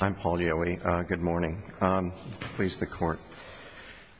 I'm Paul Yehweh. Good morning. Please, the Court.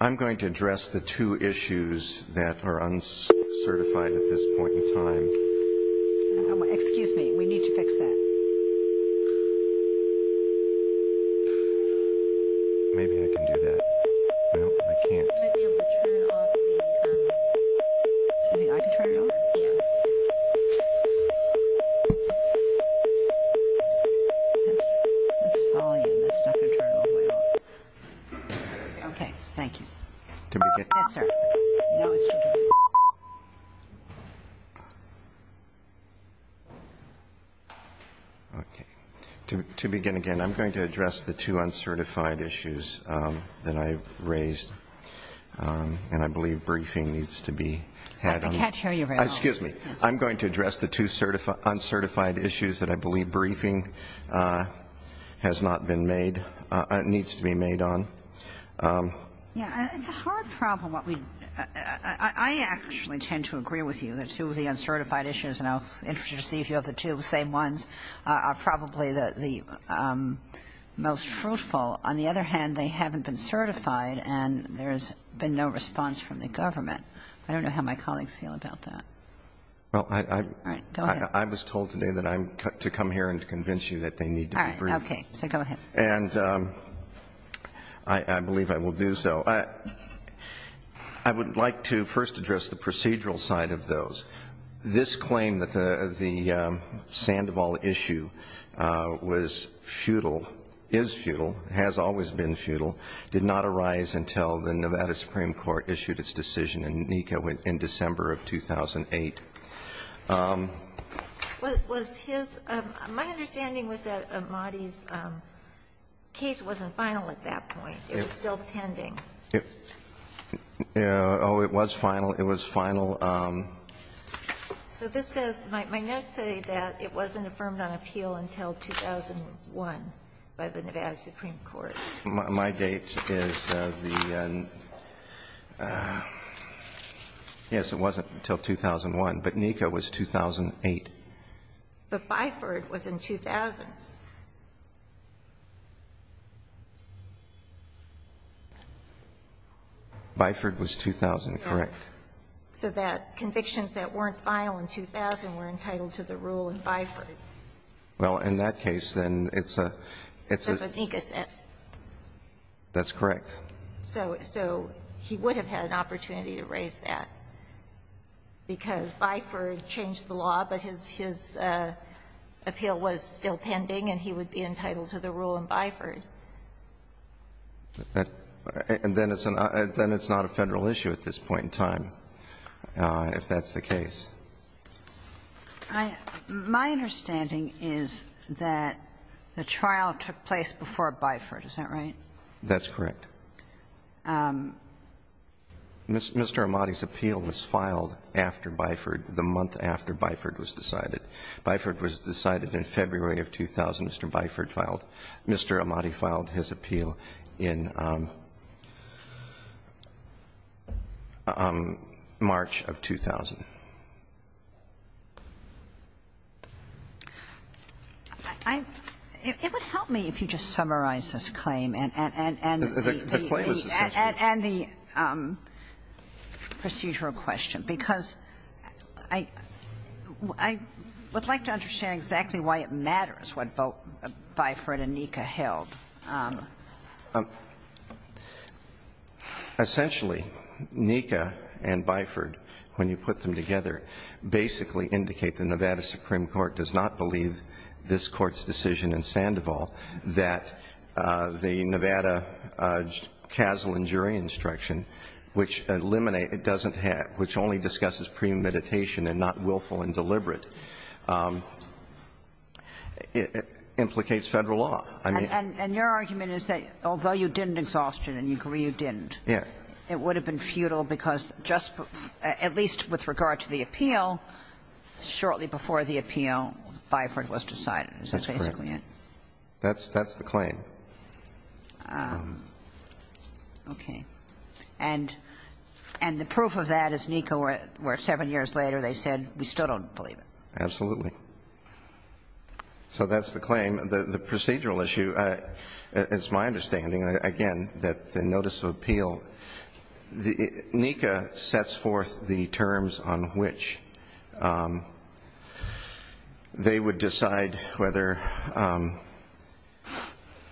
I'm going to address the two issues that are uncertified at this point in time. Excuse me. We need to fix that. Maybe I can do that. No, I can't. Excuse me. I can turn it over? Yes. That's volume. That's not going to turn it off by itself. Okay. Thank you. Yes, sir. Okay. To begin again, I'm going to address the two uncertified issues that I raised. And I believe briefing needs to be had. I can't hear you very well. Excuse me. I'm going to address the two uncertified issues that I believe briefing has not been made, needs to be made on. Yes. It's a hard problem. I actually tend to agree with you that two of the uncertified issues, and I was interested to see if you have the two same ones, are probably the most fruitful. On the other hand, they haven't been certified and there's been no response from the government. I don't know how my colleagues feel about that. Well, I was told today that I'm to come here and convince you that they need to be briefed. All right. Okay. So go ahead. And I believe I will do so. I would like to first address the procedural side of those. This claim that the Sandoval issue was futile, is futile, has always been futile, did not arise until the Nevada Supreme Court issued its decision in NECA in December of 2008. Was his my understanding was that Amati's case wasn't final at that point. It was still pending. Oh, it was final. It was final. So this says, my notes say that it wasn't affirmed on appeal until 2001 by the Nevada Supreme Court. My date is the, yes, it wasn't until 2001, but NECA was 2008. But Byford was in 2000. Byford was 2000, correct. So that convictions that weren't final in 2000 were entitled to the rule in Byford. Well, in that case, then, it's a, it's a. That's what NECA said. That's correct. So he would have had an opportunity to raise that, because Byford changed the law, but his, his appeal was still pending and he would be entitled to the rule in Byford. And then it's not a Federal issue at this point in time, if that's the case. My understanding is that the trial took place before Byford. Is that right? That's correct. Mr. Amati's appeal was filed after Byford, the month after Byford was decided. Byford was decided in February of 2000. Mr. Amati filed his appeal in March of 2000. I, it would help me if you just summarized this claim and, and, and. The claim is essential. And the procedural question, because I, I would like to understand exactly why it matters what Byford and NECA held. Essentially, NECA and Byford, when you put them together, basically indicate the Nevada Supreme Court does not believe this Court's decision in Sandoval that the Nevada CASL and jury instruction, which eliminate, it doesn't have, which only discusses premeditation and not willful and deliberate, implicates Federal law. I mean. And your argument is that although you didn't exhaustion and you agree you didn't. Yeah. It would have been futile because just, at least with regard to the appeal, shortly before the appeal, Byford was decided. Is that basically it? That's correct. That's, that's the claim. Okay. And, and the proof of that is NECA where, where 7 years later they said we still don't believe it. Absolutely. So that's the claim. The procedural issue, it's my understanding, again, that the notice of appeal, NECA sets forth the terms on which they would decide whether,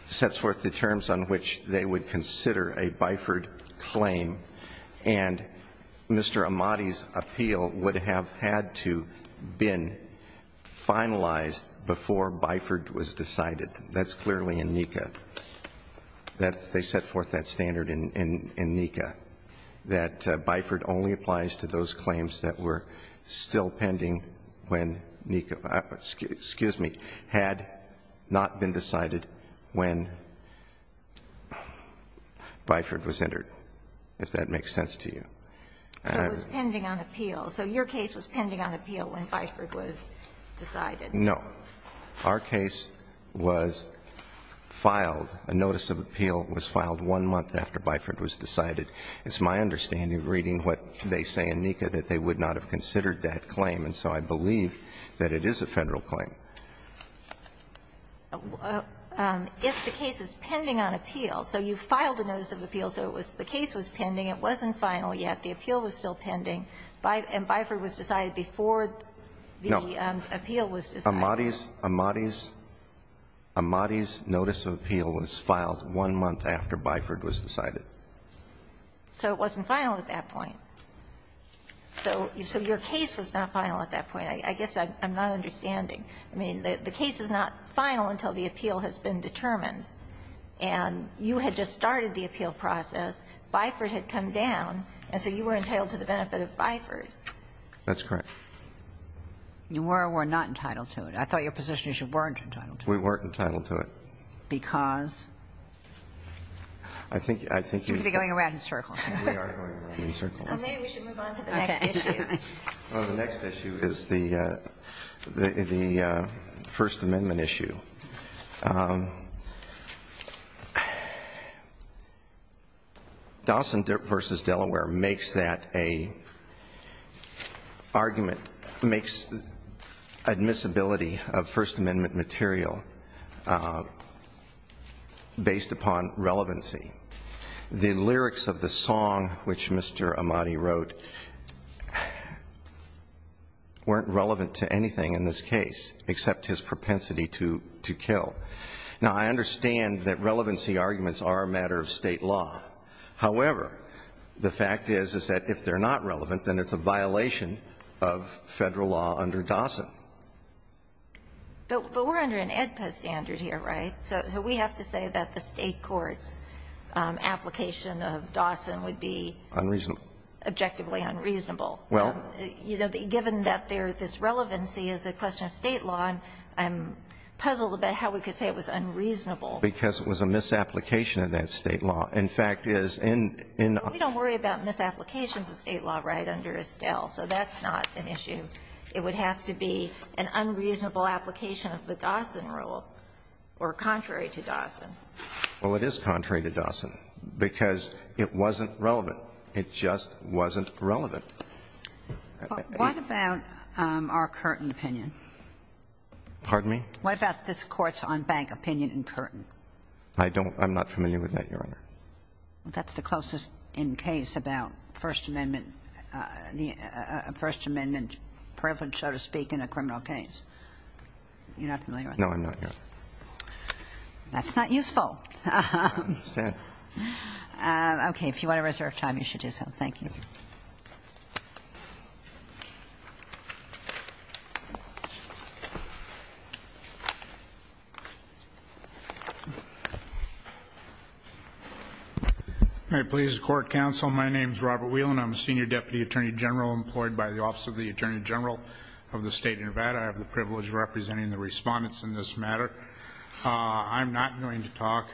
sets forth the terms on which they would consider a Byford claim and Mr. Amati's been finalized before Byford was decided. That's clearly in NECA. That's, they set forth that standard in, in NECA, that Byford only applies to those claims that were still pending when NECA, excuse me, had not been decided when Byford was entered, if that makes sense to you. So it was pending on appeal. So your case was pending on appeal when Byford was decided. No. Our case was filed, a notice of appeal was filed one month after Byford was decided. It's my understanding, reading what they say in NECA, that they would not have considered that claim, and so I believe that it is a Federal claim. If the case is pending on appeal, so you filed a notice of appeal, so it was, the appeal was still pending, and Byford was decided before the appeal was decided. No. Amati's, Amati's, Amati's notice of appeal was filed one month after Byford was decided. So it wasn't final at that point. So your case was not final at that point. I guess I'm not understanding. I mean, the case is not final until the appeal has been determined, and you had just started the appeal process. Byford had come down, and so you were entitled to the benefit of Byford. That's correct. You were or were not entitled to it. I thought your position is you weren't entitled to it. We weren't entitled to it. Because? I think, I think you're going around in circles. We are going around in circles. Maybe we should move on to the next issue. The next issue is the First Amendment issue. Dawson v. Delaware makes that a argument, makes admissibility of First Amendment material based upon relevancy. The lyrics of the song which Mr. Amati wrote weren't relevant to anything in this case except his propensity to kill. Now, I understand that relevancy arguments are a matter of State law. However, the fact is, is that if they're not relevant, then it's a violation of Federal law under Dawson. But we're under an AEDPA standard here, right? So we have to say that the State court's application of Dawson would be? Unreasonable. Objectively unreasonable. Well. You know, given that there's this relevancy as a question of State law, I'm puzzled about how we could say it was unreasonable. Because it was a misapplication of that State law. In fact, is in, in. We don't worry about misapplications of State law right under Estelle. So that's not an issue. It would have to be an unreasonable application of the Dawson rule or contrary to Dawson. Well, it is contrary to Dawson because it wasn't relevant. It just wasn't relevant. What about our Curtin opinion? Pardon me? What about this Court's on-bank opinion in Curtin? I don't. I'm not familiar with that, Your Honor. Well, that's the closest in case about First Amendment, the First Amendment privilege, so to speak, in a criminal case. You're not familiar with that? No, I'm not, Your Honor. That's not useful. I understand. Okay. If you want to reserve time, you should do so. Thank you. All right. Please, Court Counsel, my name is Robert Whelan. I'm a Senior Deputy Attorney General employed by the Office of the Attorney General of the State of Nevada. I have the privilege of representing the respondents in this matter. I'm not going to talk,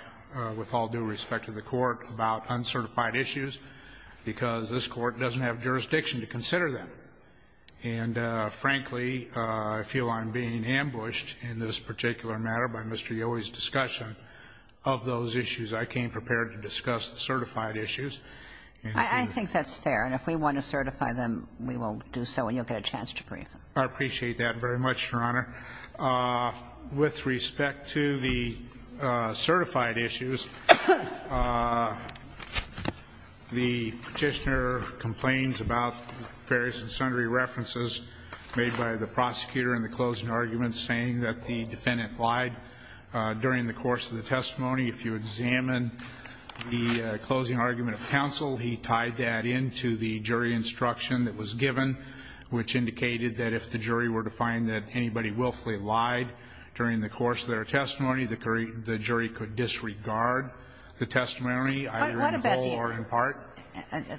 with all due respect to the Court, about uncertified issues, because this Court doesn't have jurisdiction to consider them. And, frankly, I feel I'm being ambushed in this particular matter by Mr. Yowie's discussion of those issues. I came prepared to discuss the certified issues. I think that's fair. And if we want to certify them, we will do so and you'll get a chance to brief them. I appreciate that very much, Your Honor. With respect to the certified issues, the Petitioner complains about various and sundry references made by the prosecutor in the closing argument saying that the defendant lied during the course of the testimony. If you examine the closing argument of counsel, he tied that into the jury instruction that was given, which indicated that if the jury were to find that anybody willfully lied during the course of their testimony, the jury could disregard the testimony, either in whole or in part.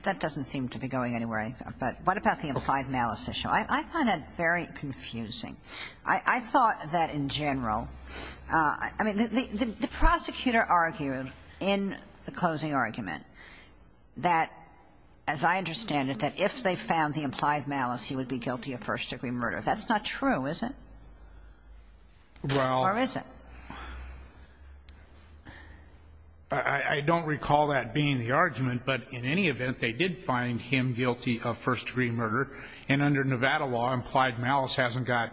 That doesn't seem to be going anywhere. But what about the implied malice issue? I find that very confusing. I thought that, in general, I mean, the prosecutor argued in the closing argument that, as I understand it, that if they found the implied malice, he would be guilty of first-degree murder. That's not true, is it? Or is it? Well, I don't recall that being the argument, but in any event, they did find him guilty of first-degree murder. And under Nevada law, implied malice hasn't got,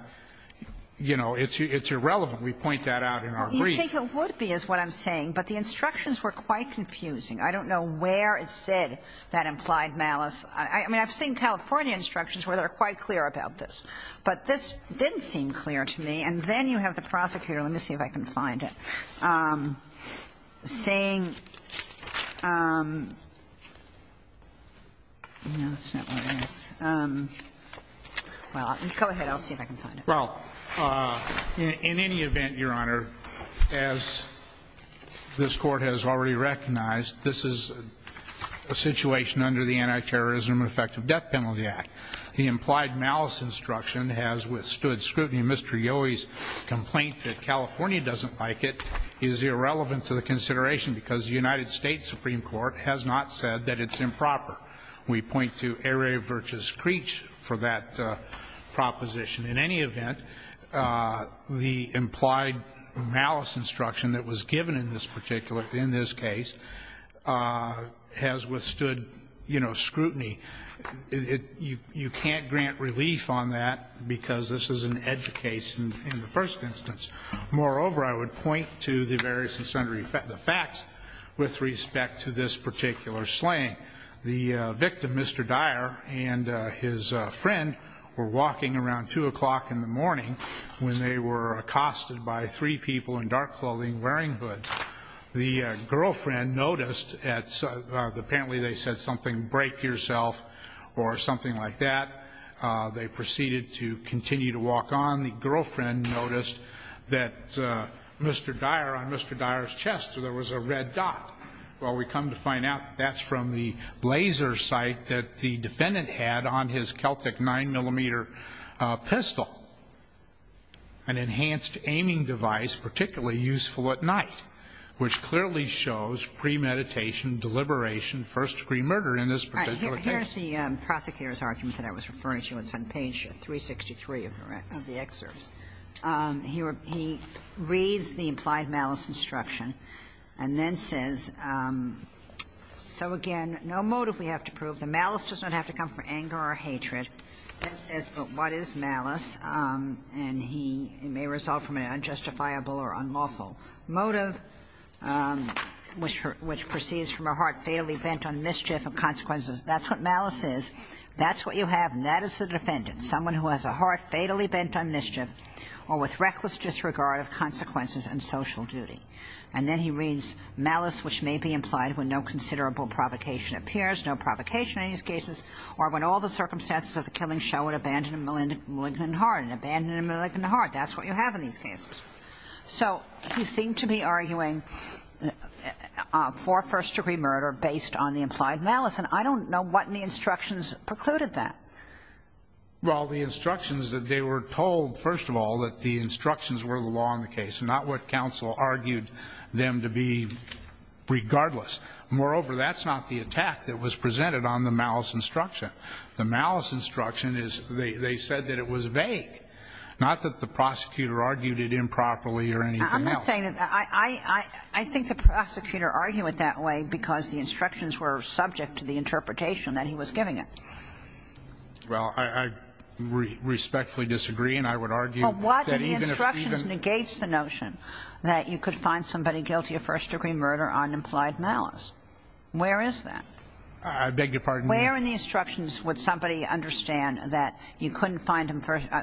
you know, it's irrelevant. We point that out in our brief. You think it would be is what I'm saying, but the instructions were quite confusing. I don't know where it said that implied malice. I mean, I've seen California instructions where they're quite clear about this. But this didn't seem clear to me. And then you have the prosecutor, let me see if I can find it, saying, well, go ahead. I'll see if I can find it. Well, in any event, Your Honor, as this Court has already recognized, this is a situation under the Anti-Terrorism and Effective Death Penalty Act. The implied malice instruction has withstood scrutiny. Mr. Yohe's complaint that California doesn't like it is irrelevant to the consideration because the United States Supreme Court has not said that it's improper. We point to ere virtus cretis for that proposition. In any event, the implied malice instruction that was given in this particular in this case has withstood, you know, scrutiny. You can't grant relief on that because this is an edge case in the first instance. Moreover, I would point to the various and sundry facts with respect to this particular slaying. The victim, Mr. Dyer, and his friend were walking around 2 o'clock in the morning when they were accosted by three people in dark clothing wearing hoods. The girlfriend noticed that apparently they said something, break yourself or something like that. They proceeded to continue to walk on. The girlfriend noticed that Mr. Dyer, on Mr. Dyer's chest, there was a red dot. Well, we come to find out that's from the laser sight that the defendant had on his Celtic 9-millimeter pistol, an enhanced aiming device particularly useful at night, which clearly shows premeditation, deliberation, first-degree murder in this particular case. Here's the prosecutor's argument that I was referring to. It's on page 363 of the excerpts. He reads the implied malice instruction and then says, so again, no motive we have to prove. The malice does not have to come from anger or hatred. It says, but what is malice? And he may resolve from an unjustifiable or unlawful motive which proceeds from a heart fatally bent on mischief and consequences. That's what malice is. That's what you have, and that is the defendant, someone who has a heart fatally bent on mischief or with reckless disregard of consequences and social duty. And then he reads, malice which may be implied when no considerable provocation appears, no provocation in these cases, or when all the circumstances of the killing show an abandoned and malignant heart. An abandoned and malignant heart. That's what you have in these cases. So he seemed to be arguing for first-degree murder based on the implied malice, and I don't know what in the instructions precluded that. Well, the instructions that they were told, first of all, that the instructions were the law in the case, not what counsel argued them to be regardless. Moreover, that's not the attack that was presented on the malice instruction. The malice instruction is they said that it was vague, not that the prosecutor argued it improperly or anything else. I'm not saying that. I think the prosecutor argued it that way because the instructions were subject to the interpretation that he was giving it. Well, I respectfully disagree, and I would argue that even if even the instructions negates the notion that you could find somebody guilty of first-degree murder on implied malice. Where is that? I beg your pardon? Where in the instructions would somebody understand that you couldn't find him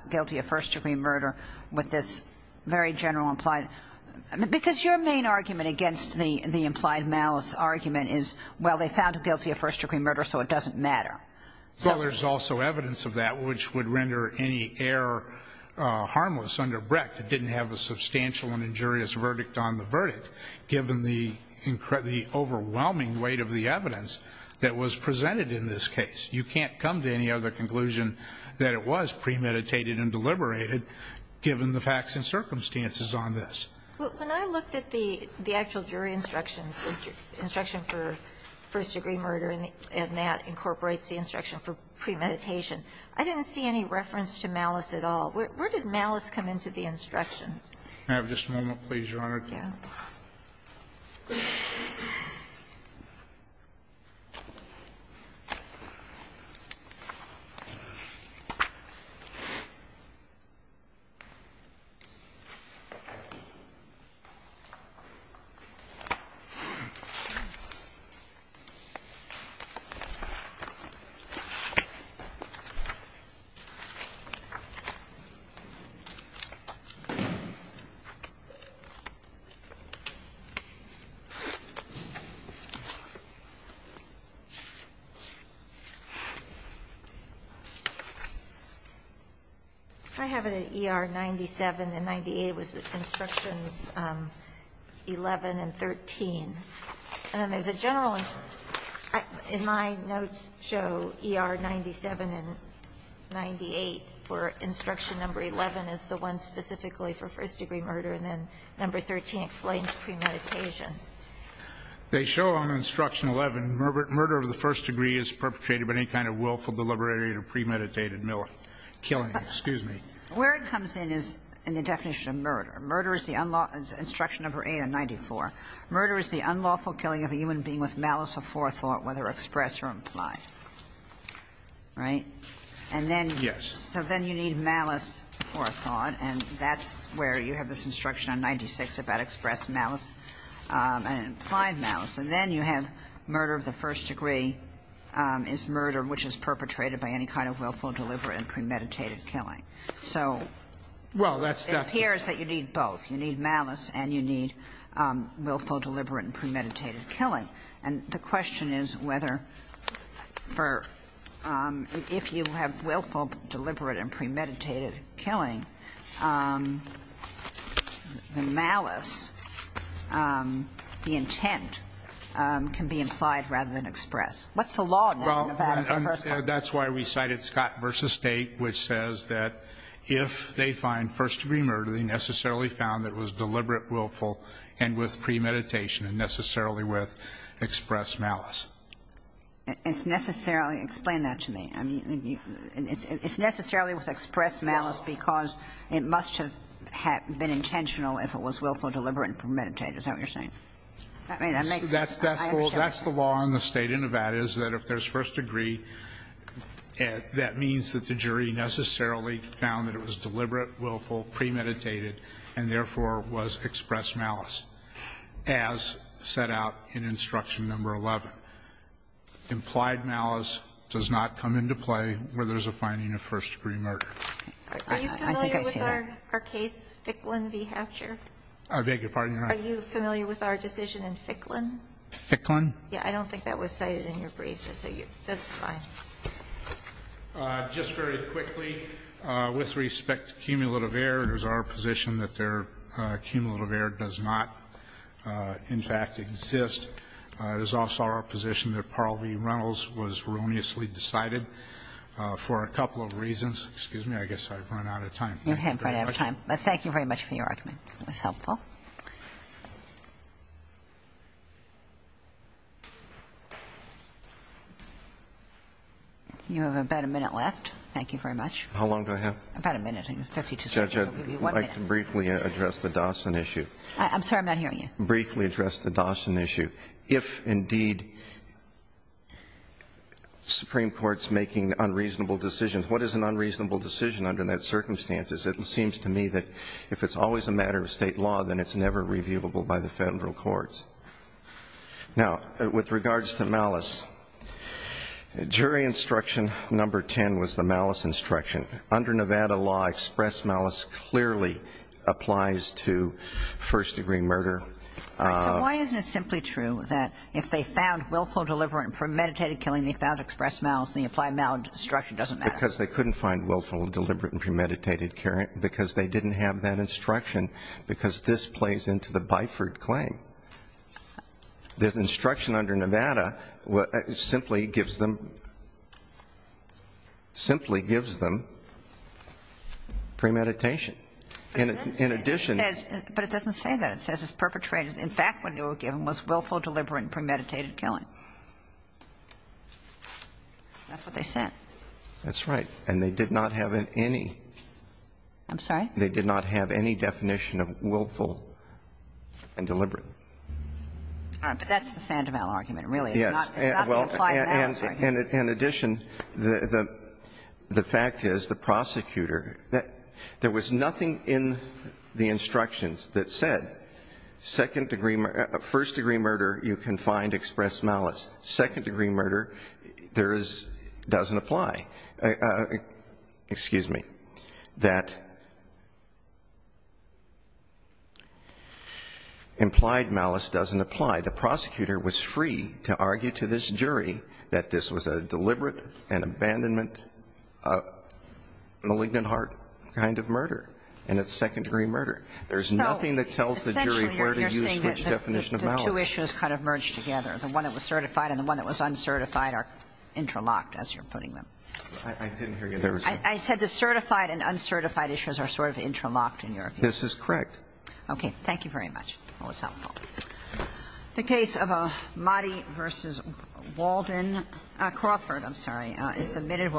guilty of first-degree murder with this very general implied – because your main argument against the implied malice argument is, well, they found him guilty of first-degree murder, so it doesn't matter. So there's also evidence of that which would render any error harmless under Brecht. It didn't have a substantial and injurious verdict on the verdict, given the overwhelming weight of the evidence that was presented in this case. You can't come to any other conclusion that it was premeditated and deliberated, given the facts and circumstances on this. But when I looked at the actual jury instructions, the instruction for first-degree murder, and that incorporates the instruction for premeditation, I didn't see any reference to malice at all. Where did malice come into the instructions? May I have just a moment, please, Your Honor? Yeah. I have it at ER 97 and 98 was instructions 11 and 13. And as a general – in my notes show, ER 97 and 98 for instruction number 11 is the one specifically for first-degree murder, and then number 13 explains premeditation. They show on instruction 11, murder of the first degree is perpetrated by any kind of willful, deliberate, or premeditated killing. Excuse me. Where it comes in is in the definition of murder. Murder is the unlawful – instruction number 8 of 94. Murder is the unlawful killing of a human being with malice or forethought, whether expressed or implied. Right? And then you need malice or forethought. And that's where you have this instruction on 96 about expressed malice and implied malice. And then you have murder of the first degree is murder which is perpetrated by any kind of willful, deliberate, and premeditated killing. So it's here that you need both. You need malice and you need willful, deliberate, and premeditated killing. And the question is whether for – if you have willful, deliberate, and premeditated killing, the malice, the intent, can be implied rather than expressed. What's the law on that? Well, that's why we cited Scott v. State, which says that if they find first-degree murder, they necessarily found it was deliberate, willful, and with premeditation and necessarily with expressed malice. It's necessarily – explain that to me. I mean, it's necessarily with expressed malice because it must have been intentional if it was willful, deliberate, and premeditated. Is that what you're saying? I mean, that makes sense. I understand. That's the law in the State of Nevada is that if there's first degree, that means that the jury necessarily found that it was deliberate, willful, premeditated, and therefore was expressed malice, as set out in Instruction No. 11. But implied malice does not come into play where there's a finding of first-degree murder. Are you familiar with our case, Ficklin v. Hatcher? I beg your pardon, Your Honor. Are you familiar with our decision in Ficklin? Ficklin? Yeah, I don't think that was cited in your briefs. That's fine. Just very quickly, with respect to cumulative error, it is our position that their cumulative error does not, in fact, exist. It is also our position that Parle v. Reynolds was erroneously decided for a couple of reasons. Excuse me. I guess I've run out of time. You have run out of time. But thank you very much for your argument. It was helpful. You have about a minute left. Thank you very much. How long do I have? About a minute. Judge, I'd like to briefly address the Dawson issue. I'm sorry. I'm not hearing you. I'd like to briefly address the Dawson issue. If, indeed, Supreme Court's making unreasonable decisions, what is an unreasonable decision under those circumstances? It seems to me that if it's always a matter of state law, then it's never reviewable by the federal courts. Now, with regards to malice, jury instruction number 10 was the malice instruction. Under Nevada law, express malice clearly applies to first-degree murder. All right. So why isn't it simply true that if they found willful, deliberate, and premeditated killing, they found express malice and they applied malinstruction? It doesn't matter. Because they couldn't find willful, deliberate, and premeditated killing, because they didn't have that instruction, because this plays into the Byford claim. The instruction under Nevada simply gives them, simply gives them premeditation. In addition. But it doesn't say that. It says it's perpetrated. In fact, what they were given was willful, deliberate, and premeditated killing. That's what they said. That's right. And they did not have any. I'm sorry? They did not have any definition of willful and deliberate. All right. But that's the Sandoval argument, really. Yes. It's not the applied malice argument. In addition, the fact is the prosecutor, there was nothing in the instructions that said second-degree, first-degree murder, you can find express malice. Second-degree murder, there is, doesn't apply. Excuse me. That implied malice doesn't apply. The prosecutor was free to argue to this jury that this was a deliberate, an abandonment, a malignant heart kind of murder, and it's second-degree murder. There's nothing that tells the jury where to use which definition of malice. The two issues kind of merge together. The one that was certified and the one that was uncertified are interlocked, as you're putting them. I didn't hear you there. I said the certified and uncertified issues are sort of interlocked in your opinion. This is correct. Okay. Thank you very much. That was helpful. The case of Mahdi v. Walden, Crawford, I'm sorry, is submitted.